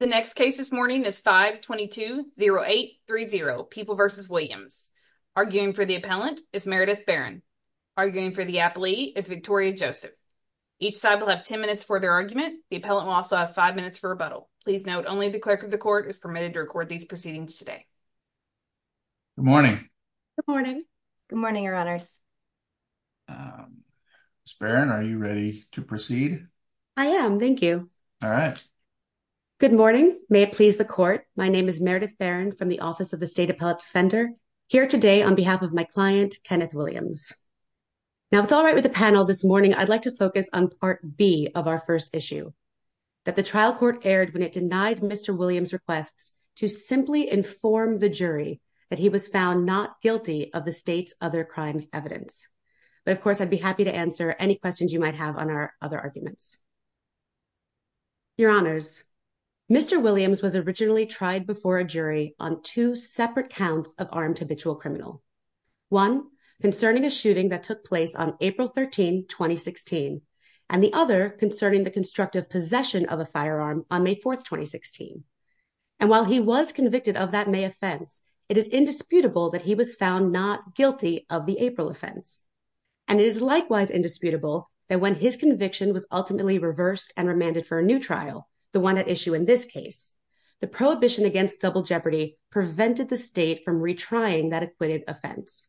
The next case this morning is 5220830, People v. Williams. Arguing for the appellant is Meredith Barron. Arguing for the appellee is Victoria Joseph. Each side will have 10 minutes for their argument. The appellant will also have 5 minutes for rebuttal. Please note, only the Clerk of the Court is permitted to record these proceedings today. Good morning. Good morning. Good morning, Your Honors. Ms. Barron, are you ready to proceed? I am, thank you. All right. Good morning. May it please the Court. My name is Meredith Barron from the Office of the State Appellate Defender. Here today on behalf of my client, Kenneth Williams. Now, if it's all right with the panel this morning, I'd like to focus on Part B of our first issue. That the trial court erred when it denied Mr. Williams' requests to simply inform the jury that he was found not guilty of the state's other crimes evidence. But, of course, I'd be happy to answer any questions you might have on our other arguments. Your Honors, Mr. Williams was originally tried before a jury on two separate counts of armed habitual criminal. One, concerning a shooting that took place on April 13, 2016. And the other, concerning the constructive possession of a firearm on May 4, 2016. And while he was convicted of that May offense, it is indisputable that he was found not guilty of the April offense. And it is likewise indisputable that when his conviction was ultimately reversed and remanded for a new trial, the one at issue in this case, the prohibition against double jeopardy prevented the state from retrying that acquitted offense.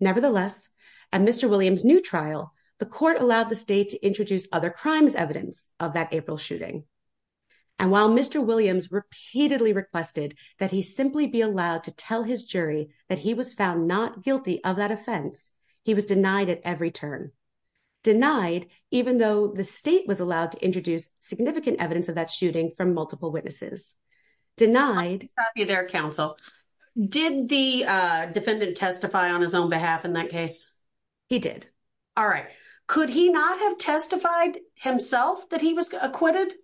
Nevertheless, at Mr. Williams' new trial, the court allowed the state to introduce other crimes evidence of that April shooting. And while Mr. Williams repeatedly requested that he simply be allowed to tell his jury that he was found not guilty of that offense, he was denied at every turn. Denied, even though the state was allowed to introduce significant evidence of that shooting from multiple witnesses. Denied... I'll stop you there, Counsel. Did the defendant testify on his own behalf in that case? He did. All right. Could he not have testified himself that he was acquitted?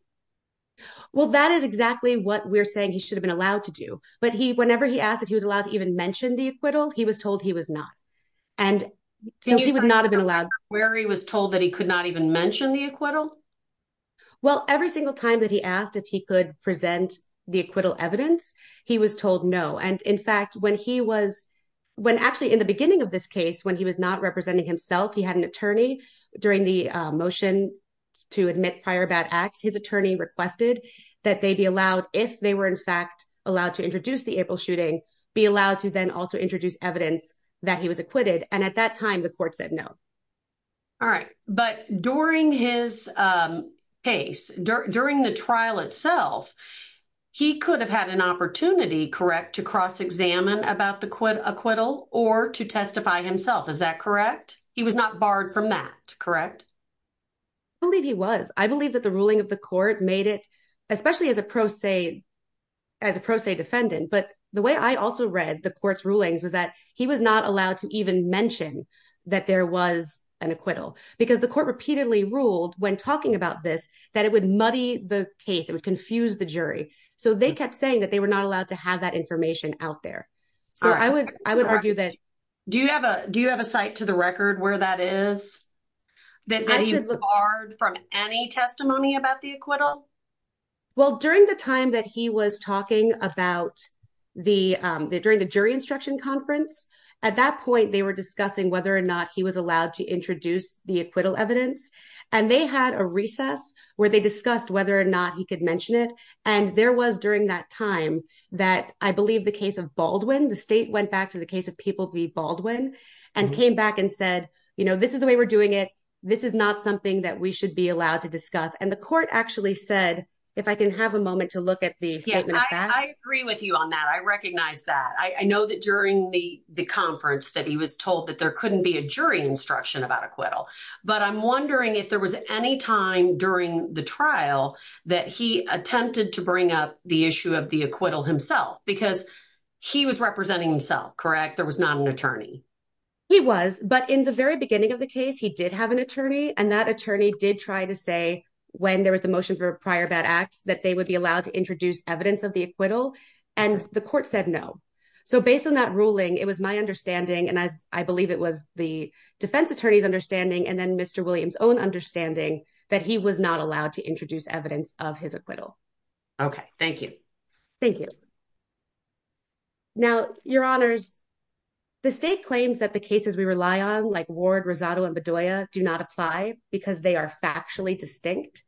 Well, that is exactly what we're saying he should have been allowed to do. But whenever he asked if he was allowed to even mention the acquittal, he was told he was not. And so he would not have been allowed. Where he was told that he could not even mention the acquittal? Well, every single time that he asked if he could present the acquittal evidence, he was told no. And in fact, when he was when actually in the beginning of this case, when he was not representing himself, he had an attorney during the motion to admit prior bad acts. His attorney requested that they be allowed, if they were in fact allowed to introduce the April shooting, be allowed to then also introduce evidence that he was acquitted. And at that time, the court said no. All right. But during his case, during the trial itself, he could have had an opportunity, correct, to cross-examine about the acquittal or to testify himself. Is that correct? He was not barred from that, correct? I believe he was. I believe that the ruling of the court made it, especially as a pro se, as a pro se defendant. But the way I also read the court's rulings was that he was not allowed to even mention that there was an acquittal. Because the court repeatedly ruled when talking about this that it would muddy the case. It would confuse the jury. So they kept saying that they were not allowed to have that information out there. Do you have a site to the record where that is? That he was barred from any testimony about the acquittal? Well, during the time that he was talking about the jury instruction conference, at that point, they were discussing whether or not he was allowed to introduce the acquittal evidence. And they had a recess where they discussed whether or not he could mention it. And there was during that time that I believe the case of Baldwin, the state went back to the case of people be Baldwin and came back and said, you know, this is the way we're doing it. This is not something that we should be allowed to discuss. And the court actually said, if I can have a moment to look at the. I agree with you on that. I recognize that. I know that during the conference that he was told that there couldn't be a jury instruction about acquittal. But I'm wondering if there was any time during the trial that he attempted to bring up the issue of the acquittal himself because he was representing himself. Correct. There was not an attorney. He was, but in the very beginning of the case, he did have an attorney and that attorney did try to say when there was the motion for prior bad acts that they would be allowed to introduce evidence of the acquittal. And the court said no. So, based on that ruling, it was my understanding and as I believe it was the defense attorney's understanding and then Mr Williams own understanding that he was not allowed to introduce evidence of his acquittal. Okay, thank you. Thank you. Now, your honors. The state claims that the cases we rely on, like ward Rosado and Bedoya do not apply because they are factually distinct.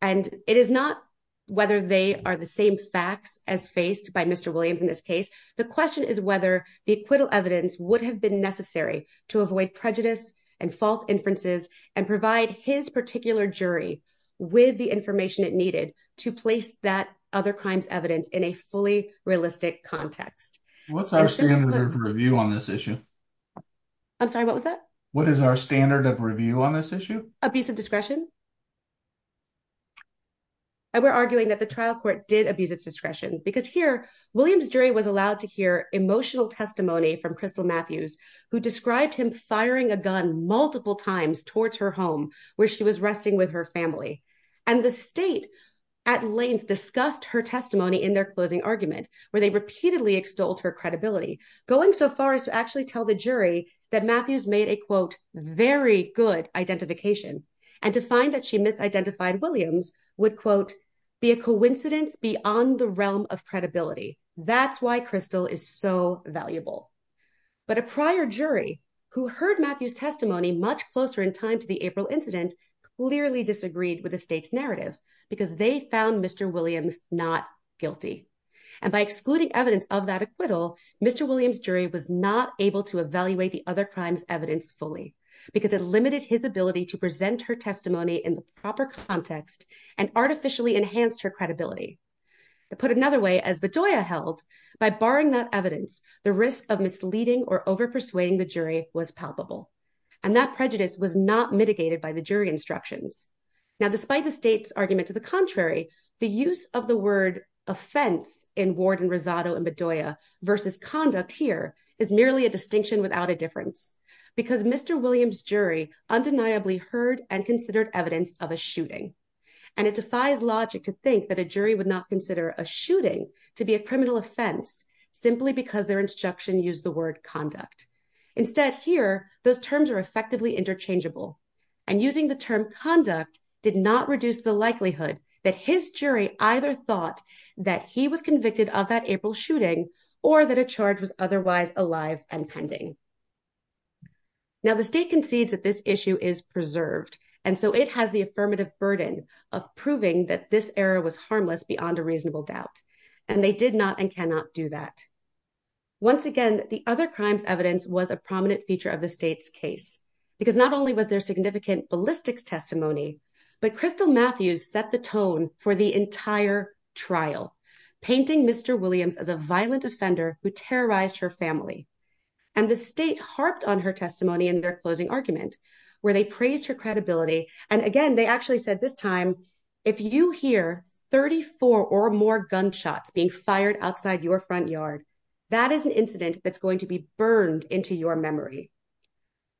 And it is not whether they are the same facts as faced by Mr Williams in this case. The question is whether the acquittal evidence would have been necessary to avoid prejudice and false inferences and provide his particular jury with the information it needed to place that other crimes evidence in a fully realistic context. What's our standard of review on this issue? I'm sorry, what was that? What is our standard of review on this issue, a piece of discretion. And we're arguing that the trial court did abuse its discretion because here, Williams jury was allowed to hear emotional testimony from crystal Matthews, who described him firing a gun multiple times towards her home, where she was resting with her family. And the state at lanes discussed her testimony in their closing argument, where they repeatedly extolled her credibility, going so far as to actually tell the jury that Matthews made a quote, very good identification, and to find that she misidentified Williams would quote, be a coincidence beyond the realm of credibility. That's why crystal is so valuable. But a prior jury who heard Matthews testimony much closer in time to the April incident clearly disagreed with the state's narrative, because they found Mr Williams, not guilty. And by excluding evidence of that acquittal, Mr Williams jury was not able to evaluate the other crimes evidence fully because it limited his ability to present her testimony in the proper context and artificially enhanced her credibility. To put it another way as Bedoya held by barring that evidence, the risk of misleading or over persuading the jury was palpable and that prejudice was not mitigated by the jury instructions. Now, despite the state's argument to the contrary, the use of the word offense in warden Rosado and Bedoya versus conduct here is merely a distinction without a difference. Because Mr Williams jury undeniably heard and considered evidence of a shooting. And it defies logic to think that a jury would not consider a shooting to be a criminal offense, simply because their instruction use the word conduct. Instead, here, those terms are effectively interchangeable and using the term conduct did not reduce the likelihood that his jury either thought that he was convicted of that April shooting, or that a charge was otherwise alive and pending. Now, the state concedes that this issue is preserved. And so it has the affirmative burden of proving that this error was harmless beyond a reasonable doubt, and they did not and cannot do that. Once again, the other crimes evidence was a prominent feature of the state's case, because not only was there significant ballistics testimony. But crystal Matthews set the tone for the entire trial painting Mr Williams as a violent offender who terrorized her family. And the state harped on her testimony in their closing argument, where they praised her credibility. And again, they actually said this time, if you hear 34 or more gunshots being fired outside your front yard. That is an incident that's going to be burned into your memory.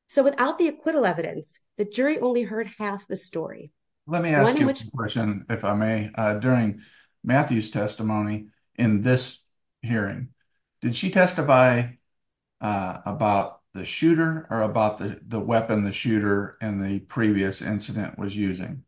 So without the acquittal evidence, the jury only heard half the story. Let me ask you a question, if I may, during Matthews testimony in this hearing. Did she testify about the shooter, or about the weapon the shooter, and the previous incident was using.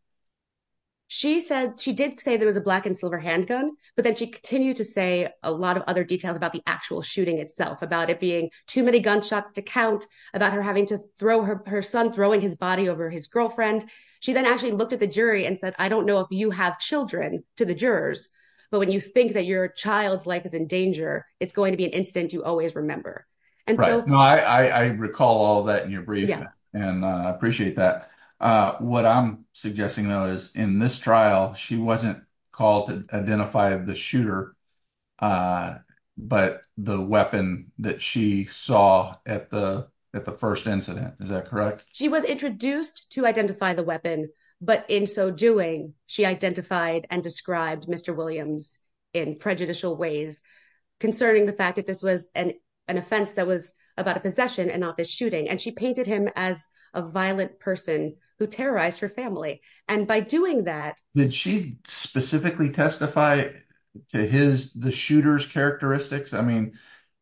She said she did say there was a black and silver handgun, but then she continued to say a lot of other details about the actual shooting itself about it being too many gunshots to count about her having to throw her her son throwing his body over his girlfriend. She then actually looked at the jury and said, I don't know if you have children to the jurors. But when you think that your child's life is in danger, it's going to be an incident you always remember. I recall all that in your brief, and I appreciate that. What I'm suggesting, though, is in this trial, she wasn't called to identify the shooter, but the weapon that she saw at the at the first incident. Is that correct? She was introduced to identify the weapon, but in so doing, she identified and described Mr. Williams in prejudicial ways, concerning the fact that this was an offense that was about a possession and not the shooting and she painted him as a violent person who terrorized her family. And by doing that, did she specifically testify to his the shooter's characteristics? I mean,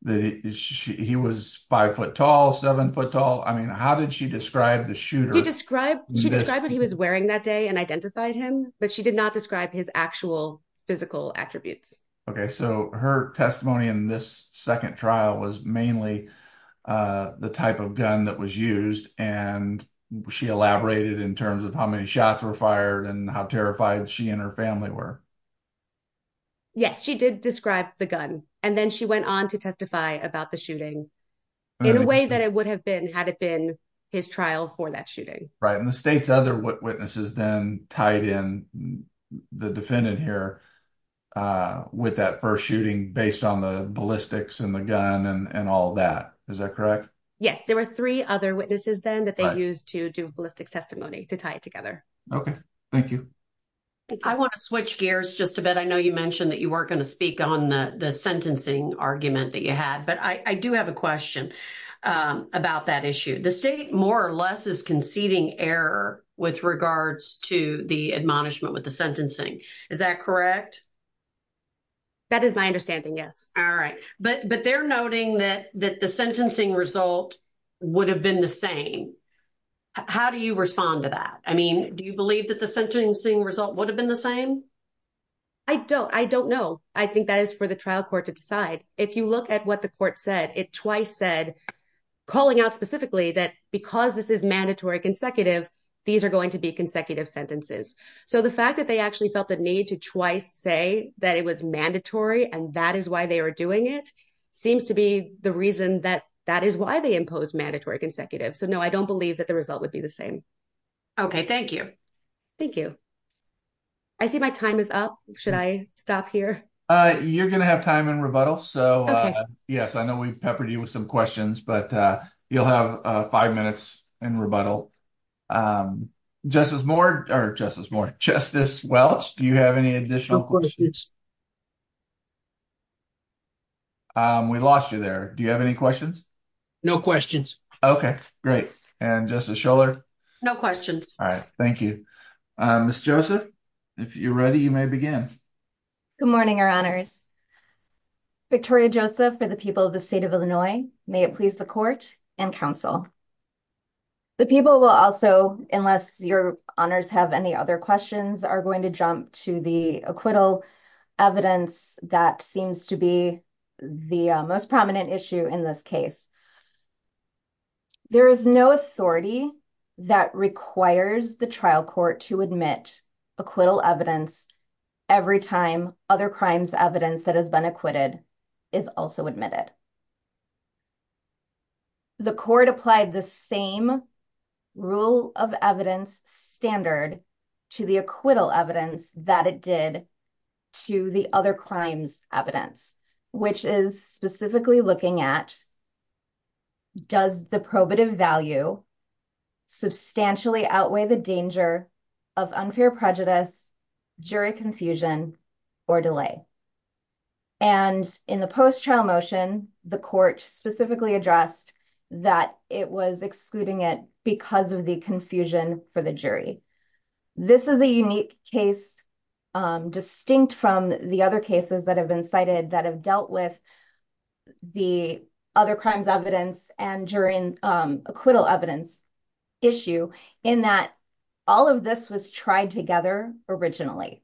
he was five foot tall, seven foot tall. I mean, how did she describe the shooter? Describe she described what he was wearing that day and identified him, but she did not describe his actual physical attributes. OK, so her testimony in this second trial was mainly the type of gun that was used, and she elaborated in terms of how many shots were fired and how terrified she and her family were. Yes, she did describe the gun, and then she went on to testify about the shooting in a way that it would have been had it been his trial for that shooting. Right, and the state's other witnesses then tied in the defendant here with that 1st shooting based on the ballistics and the gun and all that. Is that correct? Yes, there were 3 other witnesses then that they used to do ballistic testimony to tie it together. Okay, thank you. I want to switch gears just a bit. I know you mentioned that you weren't going to speak on the sentencing argument that you had, but I do have a question about that issue. The state more or less is conceding error with regards to the admonishment with the sentencing. Is that correct? That is my understanding. Yes. All right, but they're noting that the sentencing result would have been the same. How do you respond to that? I mean, do you believe that the sentencing result would have been the same? I don't. I don't know. I think that is for the trial court to decide. If you look at what the court said, it twice said, calling out specifically that because this is mandatory consecutive, these are going to be consecutive sentences. So, the fact that they actually felt the need to twice say that it was mandatory and that is why they are doing it seems to be the reason that that is why they impose mandatory consecutive. So, no, I don't believe that the result would be the same. Okay, thank you. Thank you. I see my time is up. Should I stop here? You're going to have time in rebuttal. So, yes, I know we've peppered you with some questions, but you'll have 5 minutes in rebuttal. Just as more or just as more justice. Well, do you have any additional questions? We lost you there. Do you have any questions? No questions. Okay, great. And just a shoulder. No questions. All right. Thank you. Miss Joseph, if you're ready, you may begin. Good morning, your honors. Victoria Joseph for the people of the state of Illinois. May it please the court and counsel. The people will also unless your honors have any other questions are going to jump to the acquittal evidence that seems to be the most prominent issue in this case. There is no authority that requires the trial court to admit acquittal evidence. Every time other crimes evidence that has been acquitted is also admitted. The court applied the same rule of evidence standard to the acquittal evidence that it did to the other crimes evidence, which is specifically looking at. Does the probative value substantially outweigh the danger of unfair prejudice jury confusion or delay. And in the post trial motion, the court specifically addressed that it was excluding it because of the confusion for the jury. This is a unique case distinct from the other cases that have been cited that have dealt with the other crimes evidence and during acquittal evidence. Issue in that all of this was tried together originally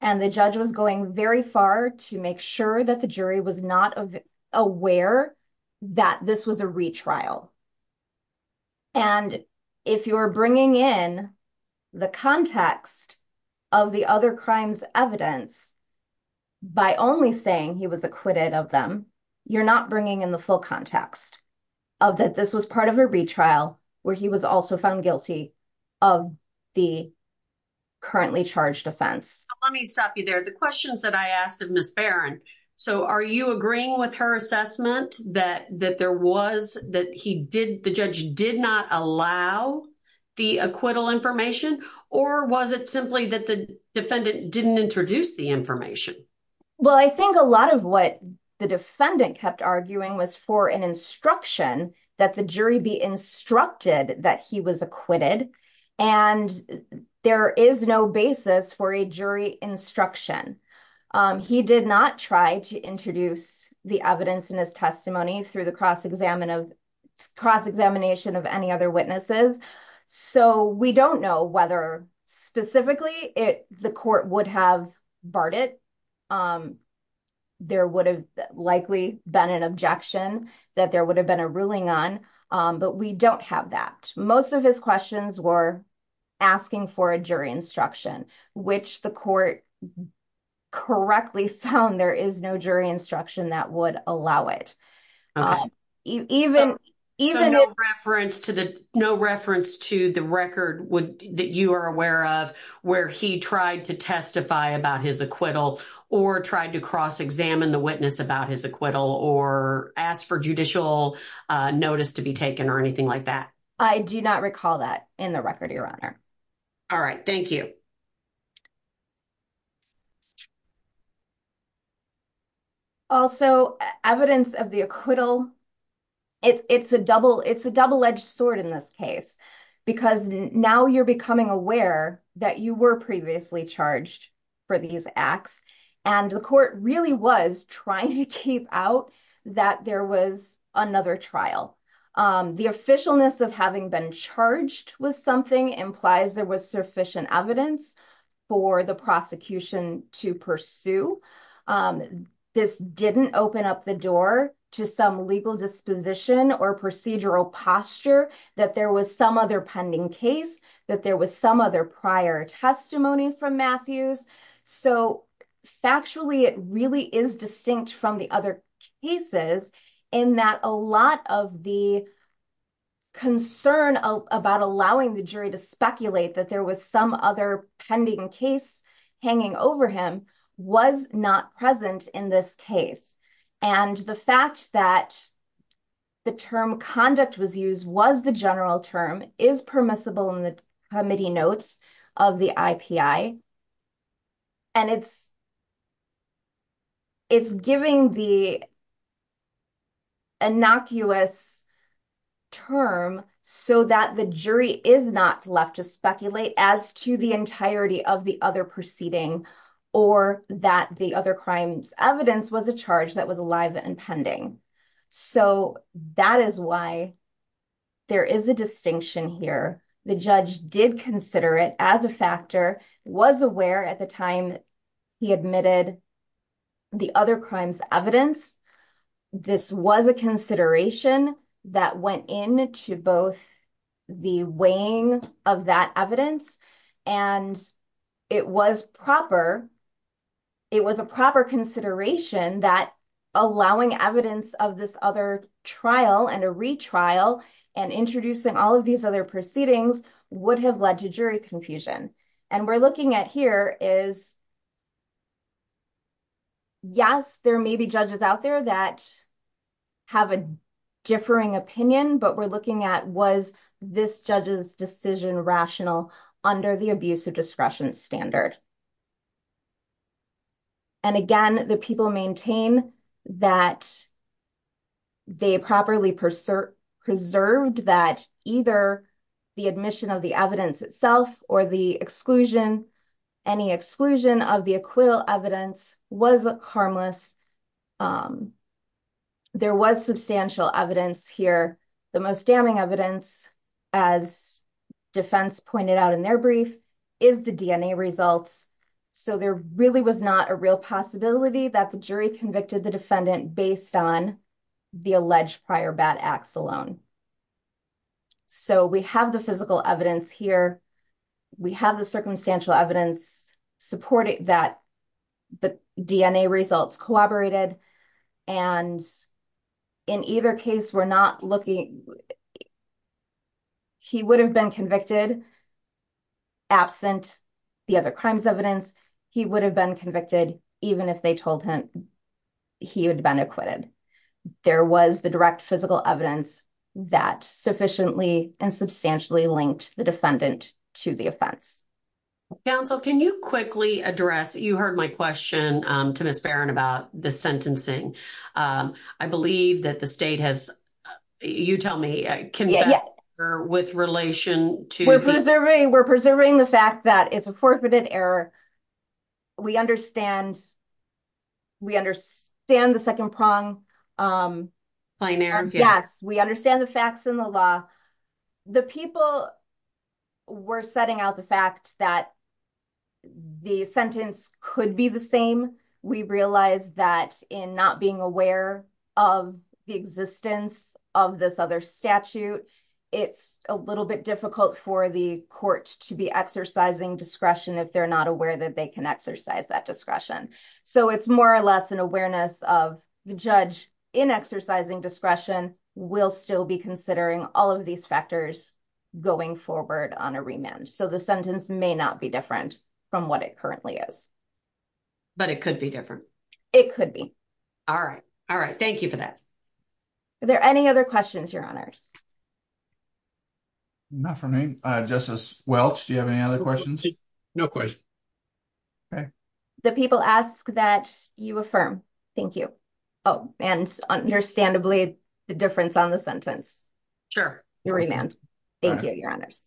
and the judge was going very far to make sure that the jury was not aware that this was a retrial. And if you're bringing in the context of the other crimes evidence by only saying he was acquitted of them, you're not bringing in the full context of that. This was part of a retrial where he was also found guilty of the. Currently charged offense. Let me stop you there. The questions that I asked of Miss Baron. So, are you agreeing with her assessment that that there was that he did the judge did not allow the acquittal information or was it simply that the defendant didn't introduce the information? Well, I think a lot of what the defendant kept arguing was for an instruction that the jury be instructed that he was acquitted and there is no basis for a jury instruction. He did not try to introduce the evidence in his testimony through the cross examination of any other witnesses. So, we don't know whether specifically it the court would have barred it. There would have likely been an objection that there would have been a ruling on, but we don't have that. Most of his questions were asking for a jury instruction, which the court correctly found. There is no jury instruction that would allow it even reference to the no reference to the record that you are aware of where he tried to testify about his acquittal or tried to cross examine the witness about his acquittal or ask for judicial notice to be taken or anything like that. I do not recall that in the record. Your honor. All right. Thank you. Also, evidence of the acquittal. It's a double it's a double edged sword in this case, because now you're becoming aware that you were previously charged for these acts. And the court really was trying to keep out that there was another trial. The officialness of having been charged with something implies there was sufficient evidence for the prosecution to pursue. This didn't open up the door to some legal disposition or procedural posture that there was some other pending case that there was some other prior testimony from Matthews. So, factually, it really is distinct from the other cases in that a lot of the concern about allowing the jury to speculate that there was some other pending case hanging over him was not present in this case. And the fact that the term conduct was used was the general term is permissible in the committee notes of the I.P.I. And it's it's giving the innocuous term so that the jury is not left to speculate as to the entirety of the other proceeding or that the other crimes evidence was a charge that was alive and pending. So that is why there is a distinction here. The judge did consider it as a factor was aware at the time he admitted the other crimes evidence. This was a consideration that went in to both the weighing of that evidence and it was proper. It was a proper consideration that allowing evidence of this other trial and a retrial and introducing all of these other proceedings would have led to jury confusion. And we're looking at here is, yes, there may be judges out there that have a differing opinion, but we're looking at was this judge's decision rational under the abuse of discretion standard. And again, the people maintain that they properly preserved that either the admission of the evidence itself or the exclusion, any exclusion of the acquittal evidence was harmless. There was substantial evidence here. The most damning evidence, as defense pointed out in their brief, is the DNA results. So there really was not a real possibility that the jury convicted the defendant based on the alleged prior bad acts alone. So we have the physical evidence here. We have the circumstantial evidence supporting that the DNA results collaborated. And in either case, we're not looking. He would have been convicted. Absent the other crimes evidence, he would have been convicted even if they told him he had been acquitted. There was the direct physical evidence that sufficiently and substantially linked the defendant to the offense. Counsel, can you quickly address? You heard my question to Miss Baron about the sentencing. I believe that the state has you tell me with relation to preserving the fact that it's a forfeited error. We understand. We understand the second prong. Yes, we understand the facts in the law. The people were setting out the fact that the sentence could be the same. We realize that in not being aware of the existence of this other statute, it's a little bit difficult for the court to be exercising discretion if they're not aware that they can exercise that discretion. So it's more or less an awareness of the judge in exercising discretion will still be considering all of these factors going forward on a remand. So the sentence may not be different from what it currently is. But it could be different. It could be. All right. All right. Thank you for that. Are there any other questions? Your honors. Not for me. Justice Welch, do you have any other questions? No question. The people ask that you affirm. Thank you. Oh, and understandably, the difference on the sentence. Sure. Thank you. Your honors.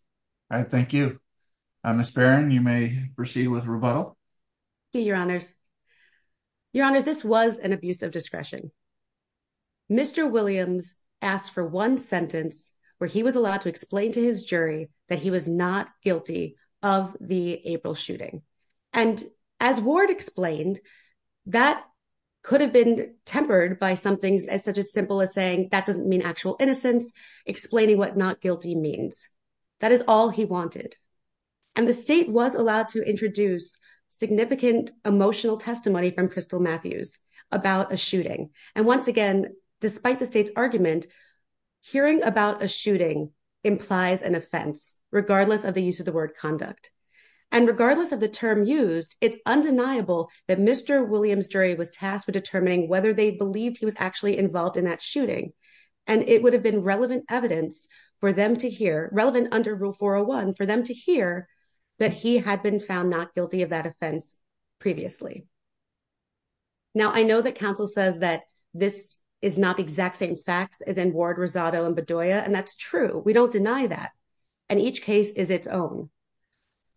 Thank you. Miss Baron, you may proceed with rebuttal. Your honors. Your honors, this was an abuse of discretion. Mr. Williams asked for one sentence where he was allowed to explain to his jury that he was not guilty of the April shooting. And as Ward explained, that could have been tempered by some things as such as simple as saying that doesn't mean actual innocence, explaining what not guilty means. That is all he wanted. And the state was allowed to introduce significant emotional testimony from Crystal Matthews about a shooting. And once again, despite the state's argument, hearing about a shooting implies an offense, regardless of the use of the word conduct. And regardless of the term used, it's undeniable that Mr. Williams jury was tasked with determining whether they believed he was actually involved in that shooting. And it would have been relevant evidence for them to hear, relevant under Rule 401, for them to hear that he had been found not guilty of that offense previously. Now, I know that counsel says that this is not the exact same facts as in Ward, Rosado, and Bedoya, and that's true. We don't deny that. And each case is its own.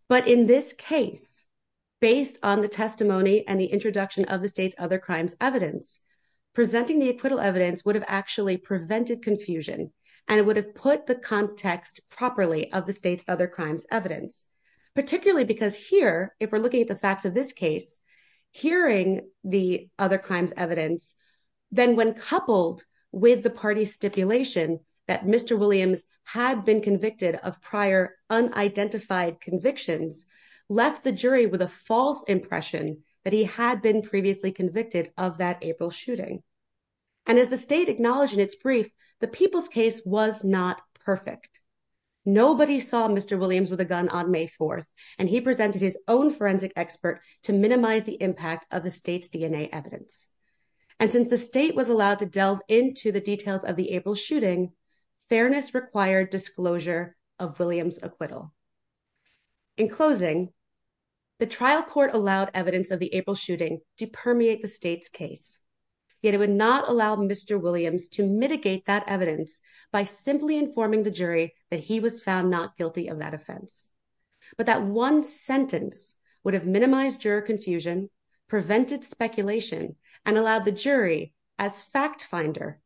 But in this case, based on the testimony and the introduction of the state's other crimes evidence, presenting the acquittal evidence would have actually prevented confusion. And it would have put the context properly of the state's other crimes evidence, particularly because here, if we're looking at the facts of this case, hearing the other crimes evidence, then when coupled with the party stipulation that Mr. Williams had been convicted of prior unidentified convictions, left the jury with a false impression that he had been previously convicted of that April shooting. And as the state acknowledged in its brief, the people's case was not perfect. Nobody saw Mr. Williams with a gun on May 4th, and he presented his own forensic expert to minimize the impact of the state's DNA evidence. And since the state was allowed to delve into the details of the April shooting, fairness required disclosure of Williams' acquittal. In closing, the trial court allowed evidence of the April shooting to permeate the state's case. Yet it would not allow Mr. Williams to mitigate that evidence by simply informing the jury that he was found not guilty of that offense. But that one sentence would have minimized juror confusion, prevented speculation, and allowed the jury, as fact finder,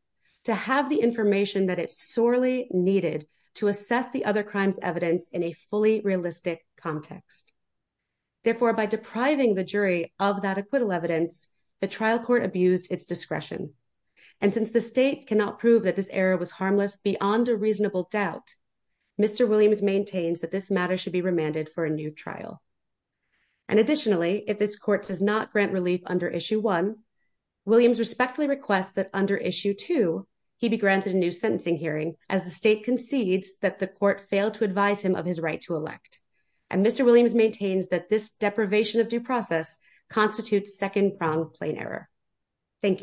to have the information that it sorely needed to assess the other crimes evidence in a fully realistic context. Therefore, by depriving the jury of that acquittal evidence, the trial court abused its discretion. And since the state cannot prove that this error was harmless beyond a reasonable doubt, Mr. Williams maintains that this matter should be remanded for a new trial. And additionally, if this court does not grant relief under Issue 1, Williams respectfully requests that under Issue 2, he be granted a new sentencing hearing as the state concedes that the court failed to advise him of his right to elect. And Mr. Williams maintains that this deprivation of due process constitutes second-pronged plain error. Thank you.